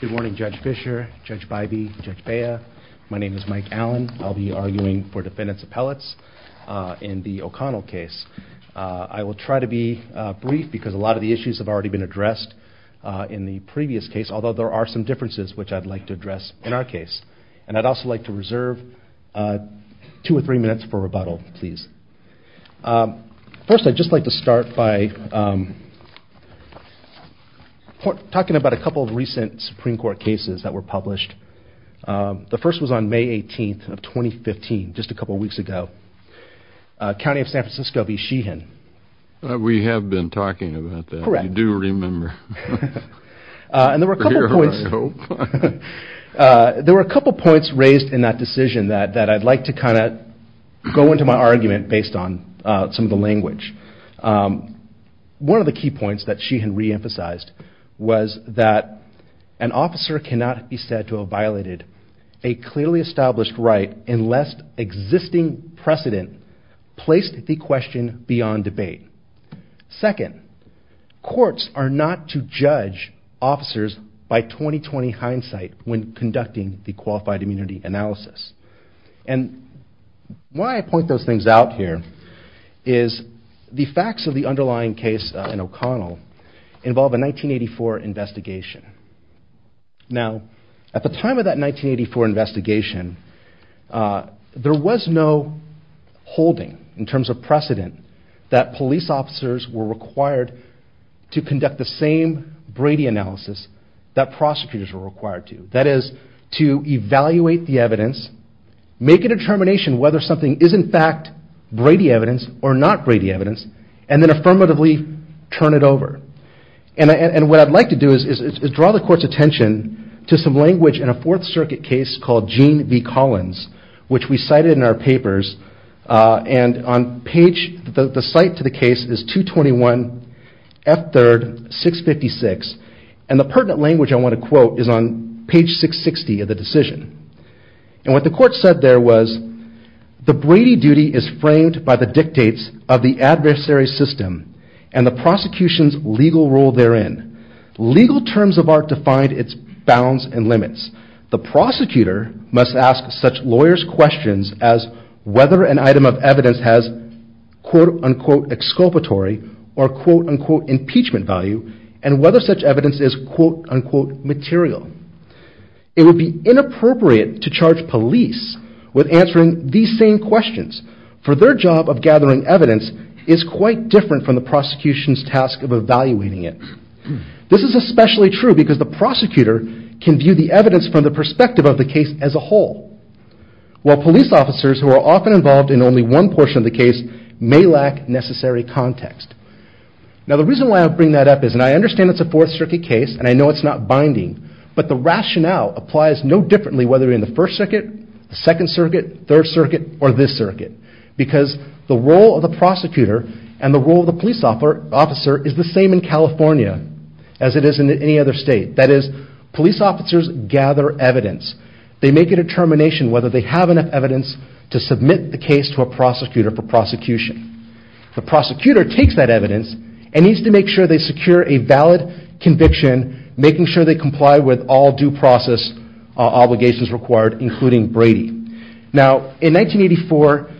Good morning, Judge Fischer, Judge Bybee, Judge Bea. My name is Mike Allen. I'll be arguing for defendants' appellates in the O'Connell case. I will try to be brief because a lot of the issues have already been addressed in the previous case, although there are some differences which I'd like to address in our case. And I'd also like to reserve two or three minutes for rebuttal, please. First, I'd just like to start by talking about a couple of recent Supreme Court cases that were published. The first was on May 18th of 2015, just a couple of weeks ago. County of San Francisco v. Sheehan. We have been talking about that. You do remember. There were a couple of points raised in that decision that I'd like to kind of go into my argument based on some of the language. One of the key points that Sheehan reemphasized was that an officer cannot be said to have violated a clearly established right unless existing precedent placed the question beyond debate. Second, courts are not to judge officers by 20-20 hindsight when conducting the qualified immunity analysis. And why I point those things out here is the facts of the underlying case in O'Connell involve a 1984 investigation. Now, at the time of that 1984 investigation, there was no holding in terms of precedent that police officers were required to conduct the same Brady analysis that prosecutors were required to. That is, to evaluate the evidence, make a determination whether something is in fact Brady evidence or not Brady evidence, and then affirmatively turn it over. And what I'd like to do is draw the court's attention to some language in a Fourth Circuit case called Gene v. Collins, which we cited in our papers. And the site to the case is 221 F. 3rd, 656, and the pertinent language I want to quote is on page 660 of the decision. And what the court said there was, The Brady duty is framed by the dictates of the adversary system and the prosecution's legal role therein. Legal terms of art define its bounds and limits. The prosecutor must ask such lawyers questions as whether an item of evidence has quote-unquote exculpatory or quote-unquote impeachment value and whether such evidence is quote-unquote material. It would be inappropriate to charge police with answering these same questions, for their job of gathering evidence is quite different from the prosecution's task of evaluating it. This is especially true because the prosecutor can view the evidence from the perspective of the case as a whole, while police officers who are often involved in only one portion of the case may lack necessary context. Now the reason why I bring that up is, and I understand it's a Fourth Circuit case and I know it's not binding, but the rationale applies no differently whether we're in the First Circuit, Second Circuit, Third Circuit, or this circuit. Because the role of the prosecutor and the role of the police officer is the same in California as it is in any other state. That is, police officers gather evidence. They make a determination whether they have enough evidence to submit the case to a prosecutor for prosecution. The prosecutor takes that evidence and needs to make sure they secure a valid conviction, making sure they comply with all due process obligations required, including Brady. Now in 1984,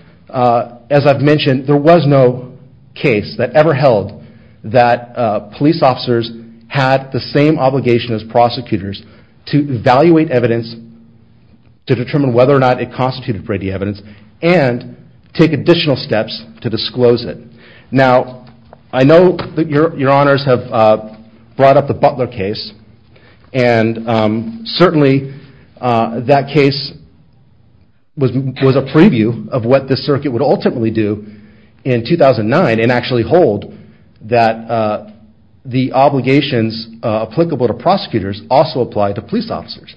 as I've mentioned, there was no case that ever held that police officers had the same obligation as prosecutors to evaluate evidence, to determine whether or not it constituted Brady evidence, and take additional steps to disclose it. Now I know that your honors have brought up the Butler case, and certainly that case was a preview of what the circuit would ultimately do in 2009 and actually hold that the obligations applicable to prosecutors also apply to police officers.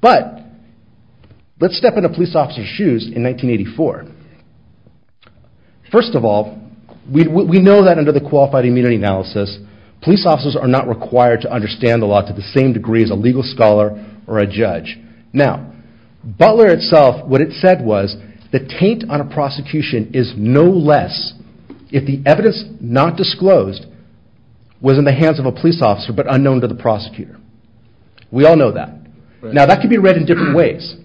But let's step into police officers' shoes in 1984. First of all, we know that under the Qualified Immunity Analysis, police officers are not required to understand the law to the same degree as a legal scholar or a judge. Now, Butler itself, what it said was, the taint on a prosecution is no less if the evidence not disclosed was in the hands of a police officer but unknown to the prosecutor. We all know that. Now that can be read in different ways.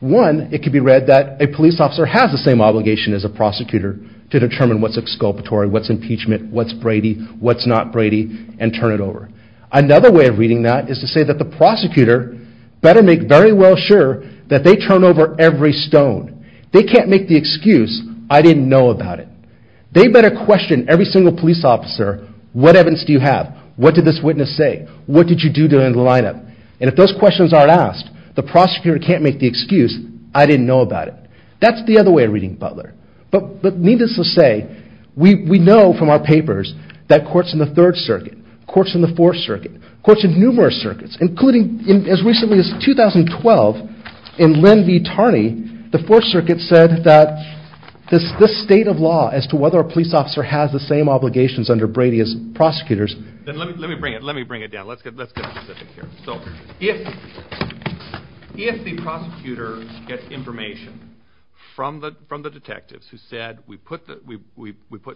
One, it can be read that a police officer has the same obligation as a prosecutor to determine what's exculpatory, what's impeachment, what's Brady, what's not Brady, and turn it over. Another way of reading that is to say that the prosecutor better make very well sure that they turn over every stone. They can't make the excuse, I didn't know about it. They better question every single police officer, what evidence do you have, what did this witness say, what did you do during the lineup? And if those questions aren't asked, the prosecutor can't make the excuse, I didn't know about it. That's the other way of reading Butler. But needless to say, we know from our papers that courts in the Third Circuit, courts in the Fourth Circuit, courts in numerous circuits, including as recently as 2012 in Lynn v. Tarney, the Fourth Circuit said that this state of law as to whether a police officer has the same obligations under Brady as prosecutors... Let me bring it down, let's get specific here. So if the prosecutor gets information from the detectives who said we put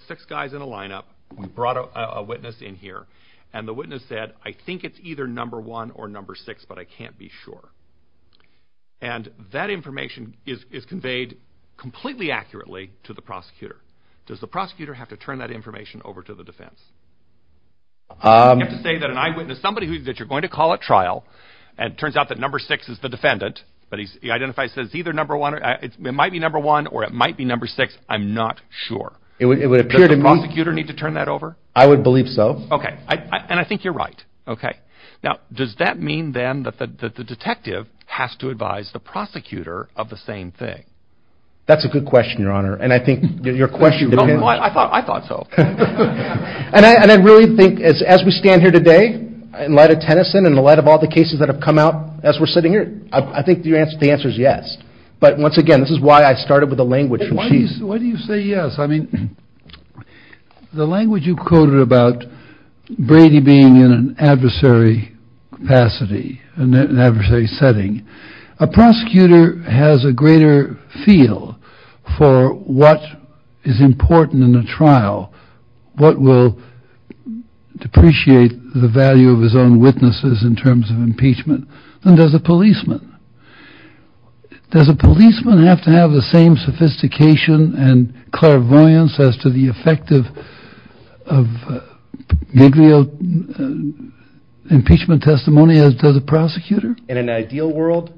six guys in a lineup, we brought a witness in here, and the witness said I think it's either number one or number six but I can't be sure. And that information is conveyed completely accurately to the prosecutor. Does the prosecutor have to turn that information over to the defense? You have to say that an eyewitness, somebody that you're going to call at trial, and it turns out that number six is the defendant, but he identifies it as either number one, it might be number one or it might be number six, I'm not sure. Does the prosecutor need to turn that over? I would believe so. Okay, and I think you're right. Okay, now does that mean then that the detective has to advise the prosecutor of the same thing? That's a good question, Your Honor, and I think your question... I thought so. And I really think as we stand here today, in light of Tennyson and in light of all the cases that have come out as we're sitting here, I think the answer is yes. But once again, this is why I started with the language from Chief. Why do you say yes? I mean, the language you quoted about Brady being in an adversary capacity, an adversary setting. A prosecutor has a greater feel for what is important in a trial, what will depreciate the value of his own witnesses in terms of impeachment than does a policeman. Does a policeman have to have the same sophistication and clairvoyance as to the effect of negligent impeachment testimony as does a prosecutor? In an ideal world,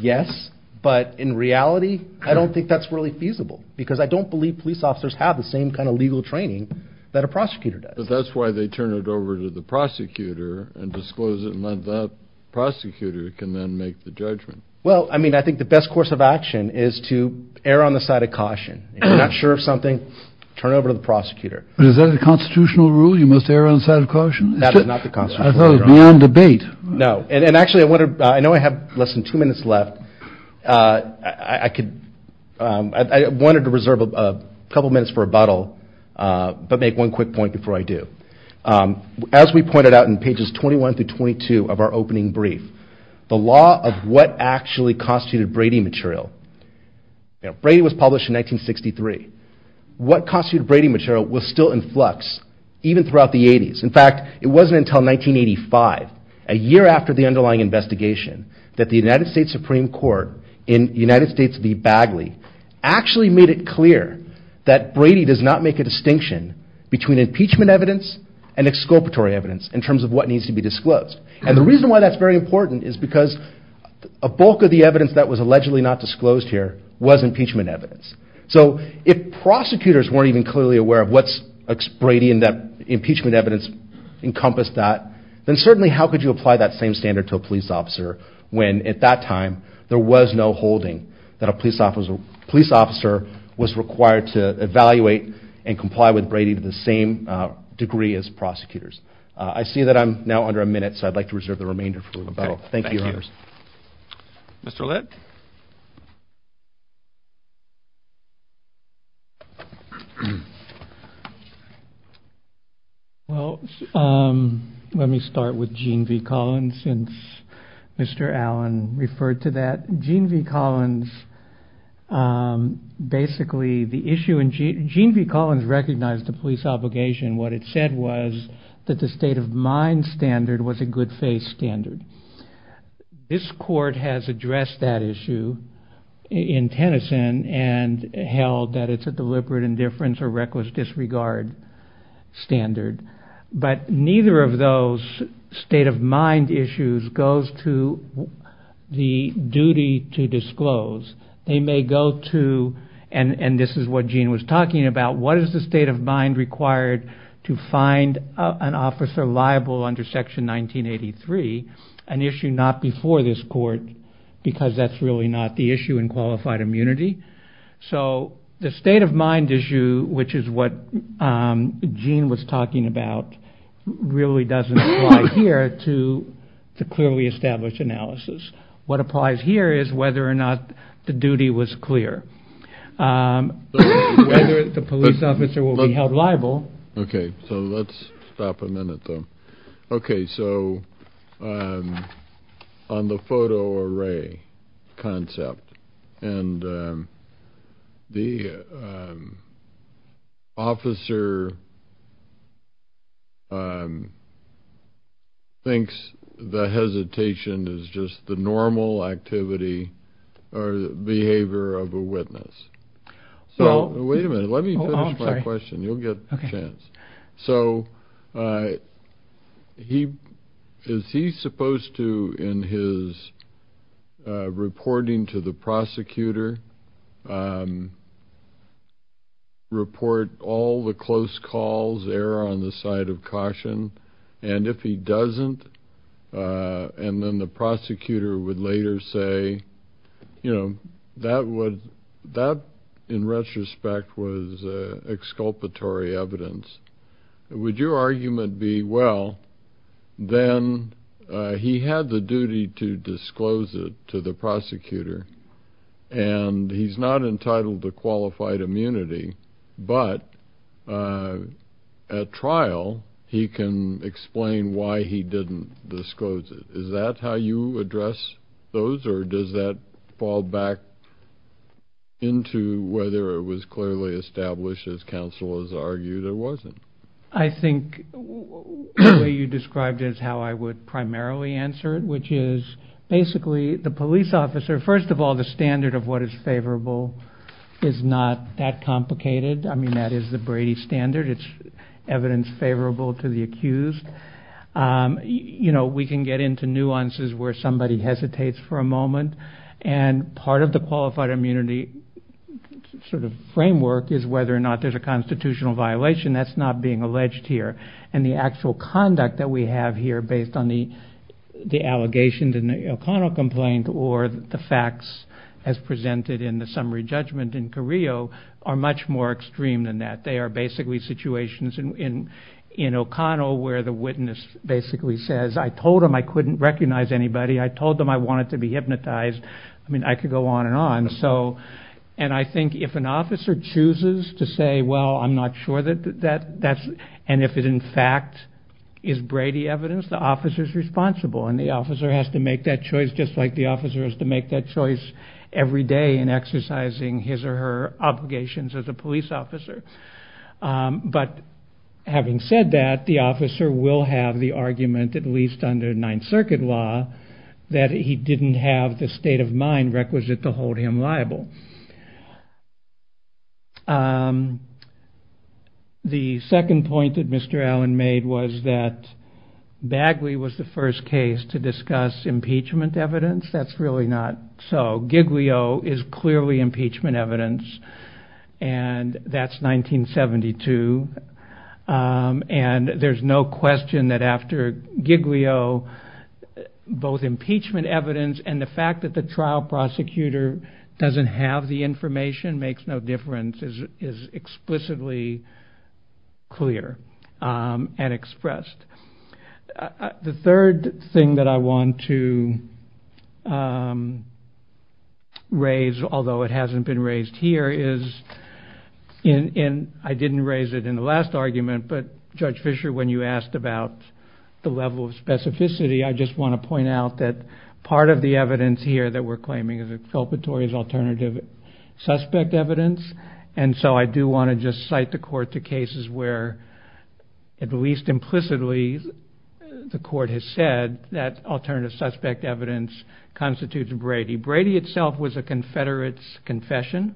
yes, but in reality, I don't think that's really feasible because I don't believe police officers have the same kind of legal training that a prosecutor does. But that's why they turn it over to the prosecutor and disclose it and let that prosecutor can then make the judgment. Well, I mean, I think the best course of action is to err on the side of caution. If you're not sure of something, turn it over to the prosecutor. Is that a constitutional rule, you must err on the side of caution? That is not the constitutional rule. I thought it was beyond debate. No. And actually, I know I have less than two minutes left. I wanted to reserve a couple minutes for rebuttal, but make one quick point before I do. As we pointed out in pages 21 through 22 of our opening brief, the law of what actually constituted Brady material. Brady was published in 1963. What constituted Brady material was still in flux even throughout the 80s. In fact, it wasn't until 1985, a year after the underlying investigation, that the United States Supreme Court in United States v. Bagley actually made it clear that Brady does not make a distinction between impeachment evidence and exculpatory evidence in terms of what needs to be disclosed. And the reason why that's very important is because a bulk of the evidence that was allegedly not disclosed here was impeachment evidence. So if prosecutors weren't even clearly aware of what's Brady and that impeachment evidence encompassed that, then certainly how could you apply that same standard to a police officer when, at that time, there was no holding that a police officer was required to evaluate and comply with Brady to the same degree as prosecutors? I see that I'm now under a minute, so I'd like to reserve the remainder for rebuttal. Thank you, Your Honors. Mr. Litt? Well, let me start with Gene V. Collins since Mr. Allen referred to that. Gene V. Collins recognized the police obligation. What it said was that the state of mind standard was a good face standard. This court has addressed that issue in Tennyson and held that it's a deliberate indifference or reckless disregard standard. But neither of those state of mind issues goes to the duty to disclose. They may go to, and this is what Gene was talking about, what is the state of mind required to find an officer liable under Section 1983, an issue not before this court because that's really not the issue in qualified immunity. So the state of mind issue, which is what Gene was talking about, really doesn't apply here to clearly establish analysis. What applies here is whether or not the duty was clear. Whether the police officer will be held liable. Okay, so let's stop a minute, though. Okay, so on the photo array concept, and the officer thinks the hesitation is just the normal activity or behavior of a witness. Wait a minute, let me finish my question. You'll get a chance. So is he supposed to, in his reporting to the prosecutor, report all the close calls, err on the side of caution? And if he doesn't, and then the prosecutor would later say, you know, that in retrospect was exculpatory evidence. Would your argument be, well, then he had the duty to disclose it to the prosecutor, and he's not entitled to qualified immunity, but at trial, he can explain why he didn't disclose it. Is that how you address those, or does that fall back into whether it was clearly established, as counsel has argued, or was it? I think the way you described it is how I would primarily answer it, which is basically the police officer, first of all, the standard of what is favorable is not that complicated. I mean, that is the Brady standard. It's evidence favorable to the accused. You know, we can get into nuances where somebody hesitates for a moment, and part of the qualified immunity sort of framework is whether or not there's a constitutional violation. That's not being alleged here. And the actual conduct that we have here based on the allegations in the O'Connell complaint or the facts as presented in the summary judgment in Carrillo are much more extreme than that. They are basically situations in O'Connell where the witness basically says, I told him I couldn't recognize anybody. I told him I wanted to be hypnotized. I mean, I could go on and on. And I think if an officer chooses to say, well, I'm not sure that that's, and if it in fact is Brady evidence, the officer is responsible, and the officer has to make that choice just like the officer has to make that choice every day in exercising his or her obligations as a police officer. But having said that, the officer will have the argument, at least under Ninth Circuit law, that he didn't have the state of mind requisite to hold him liable. The second point that Mr. Allen made was that Bagley was the first case to discuss impeachment evidence. That's really not so. Giglio is clearly impeachment evidence, and that's 1972. And there's no question that after Giglio, both impeachment evidence and the fact that the trial prosecutor doesn't have the information makes no difference is explicitly clear and expressed. The third thing that I want to raise, although it hasn't been raised here, is in, I didn't raise it in the last argument, but Judge Fisher, when you asked about the level of specificity, I just want to point out that part of the evidence here that we're claiming is exculpatory as alternative suspect evidence. And so I do want to just cite the court to cases where, at least implicitly, the court has said that alternative suspect evidence constitutes Brady. Brady itself was a confederate's confession.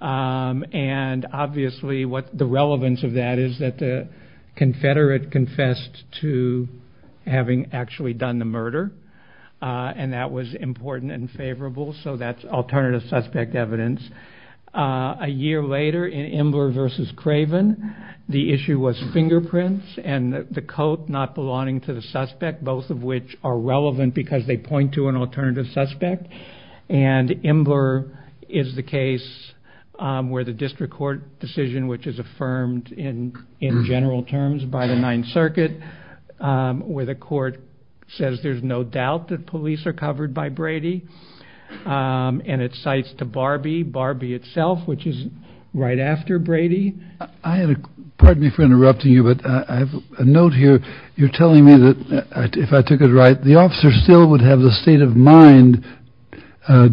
And obviously the relevance of that is that the confederate confessed to having actually done the murder, and that was important and favorable, so that's alternative suspect evidence. A year later, in Imler v. Craven, the issue was fingerprints and the coat not belonging to the suspect, both of which are relevant because they point to an alternative suspect, and Imler is the case where the district court decision, which is affirmed in general terms by the Ninth Circuit, where the court says there's no doubt that police are covered by Brady, and it cites to Barbie, Barbie itself, which is right after Brady. Pardon me for interrupting you, but I have a note here. You're telling me that, if I took it right, the officer still would have the state-of-mind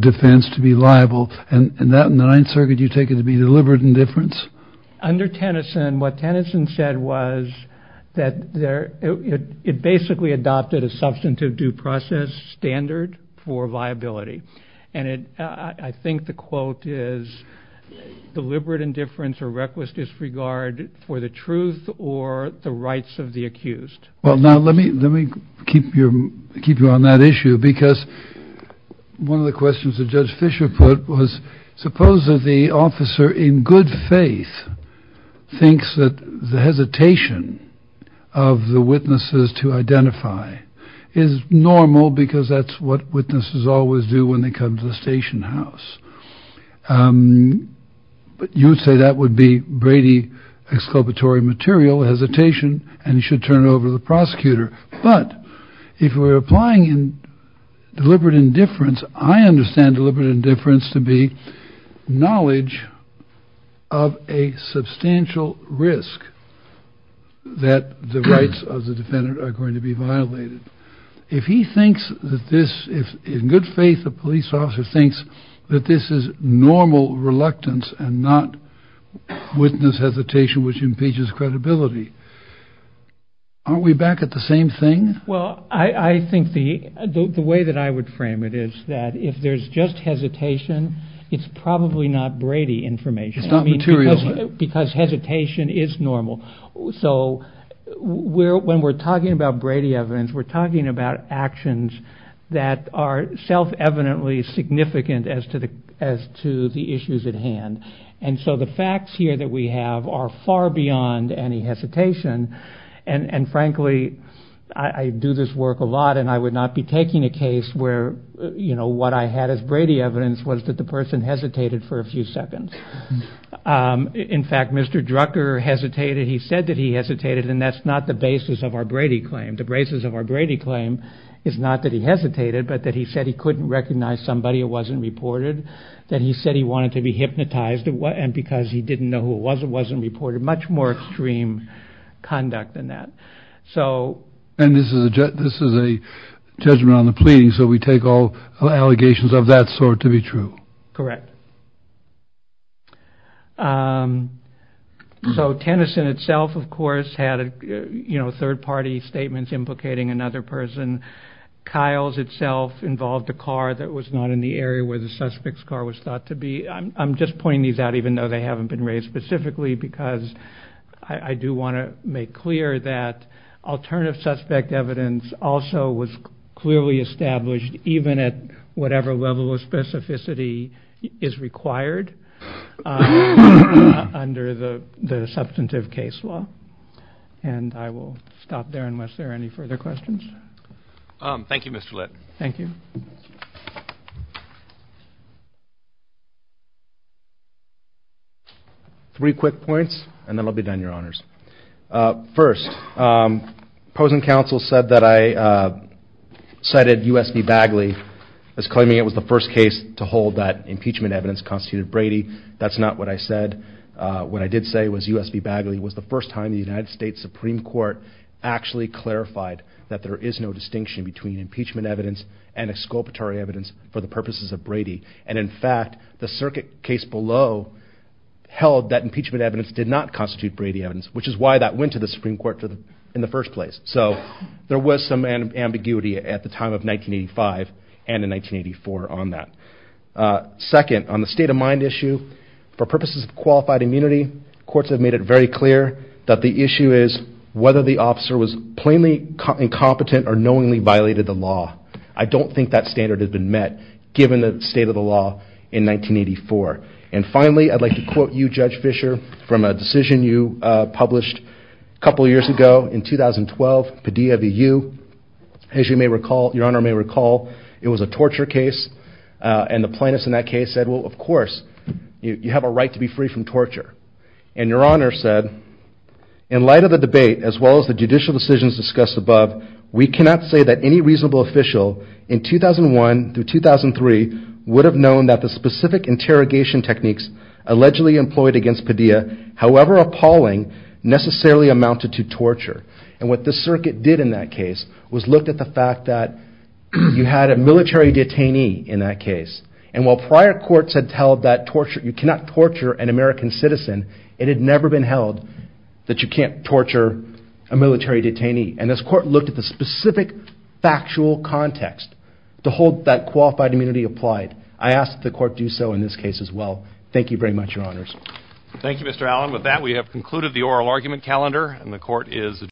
defense to be liable, and that in the Ninth Circuit you take it to be deliberate indifference? Under Tennyson, what Tennyson said was that it basically adopted a substantive due process standard for viability. And I think the quote is deliberate indifference or reckless disregard for the truth or the rights of the accused. Well, now, let me keep you on that issue, because one of the questions that Judge Fischer put was, suppose that the officer, in good faith, thinks that the hesitation of the witnesses to identify is normal, because that's what witnesses always do when they come to the station house. But you would say that would be Brady exculpatory material, hesitation, and you should turn it over to the prosecutor. But if we're applying deliberate indifference, I understand deliberate indifference to be knowledge of a substantial risk that the rights of the defendant are going to be violated. If he thinks that this, if in good faith the police officer thinks that this is normal reluctance and not witness hesitation which impedes his credibility, aren't we back at the same thing? Well, I think the way that I would frame it is that if there's just hesitation, it's probably not Brady information, because hesitation is normal. So when we're talking about Brady evidence, we're talking about actions that are self-evidently significant as to the issues at hand. And so the facts here that we have are far beyond any hesitation. And frankly, I do this work a lot, and I would not be taking a case where what I had as Brady evidence was that the person hesitated for a few seconds. In fact, Mr. Drucker hesitated. He said that he hesitated, and that's not the basis of our Brady claim. The basis of our Brady claim is not that he hesitated, but that he said he couldn't recognize somebody who wasn't reported, that he said he wanted to be hypnotized because he didn't know who it was that wasn't reported. Much more extreme conduct than that. And this is a judgment on the pleading, so we take all allegations of that sort to be true. Correct. So Tennyson itself, of course, had third party statements implicating another person. Kyle's itself involved a car that was not in the area where the suspect's car was thought to be. I'm just pointing these out, even though they haven't been raised specifically, because I do want to make clear that alternative suspect evidence also was clearly established, even at whatever level of specificity is required under the substantive case law. And I will stop there unless there are any further questions. Thank you, Mr. Litt. Thank you. Three quick points, and then I'll be done, Your Honors. First, Pozen Counsel said that I cited U.S.B. Bagley as claiming it was the first case to hold that impeachment evidence constituted Brady. That's not what I said. What I did say was U.S.B. Bagley was the first time the United States Supreme Court actually clarified that there is no distinction between impeachment evidence and exculpatory evidence for the purposes of Brady. And in fact, the circuit case below held that impeachment evidence did not constitute Brady evidence, which is why that went to the Supreme Court in the first place. So there was some ambiguity at the time of 1985 and in 1984 on that. Second, on the state of mind issue, for purposes of qualified immunity, courts have made it very clear that the issue is whether the officer was plainly incompetent or knowingly violated the law. I don't think that standard has been met given the state of the law in 1984. And finally, I'd like to quote you, Judge Fischer, from a decision you published a couple of years ago in 2012, Padilla v. U. As your Honor may recall, it was a torture case, and the plaintiffs in that case said, well, of course, you have a right to be free from torture. And your Honor said, in light of the debate, as well as the judicial decisions discussed above, we cannot say that any reasonable official in 2001 through 2003 would have known that the specific interrogation techniques allegedly employed against Padilla, however appalling, necessarily amounted to torture. And what the circuit did in that case was looked at the fact that you had a military detainee in that case. And while prior courts had held that you cannot torture an American citizen, it had never been held that you can't torture a military detainee. And this court looked at the specific factual context to hold that qualified immunity applied. I ask that the court do so in this case, as well. Thank you very much, Your Honors.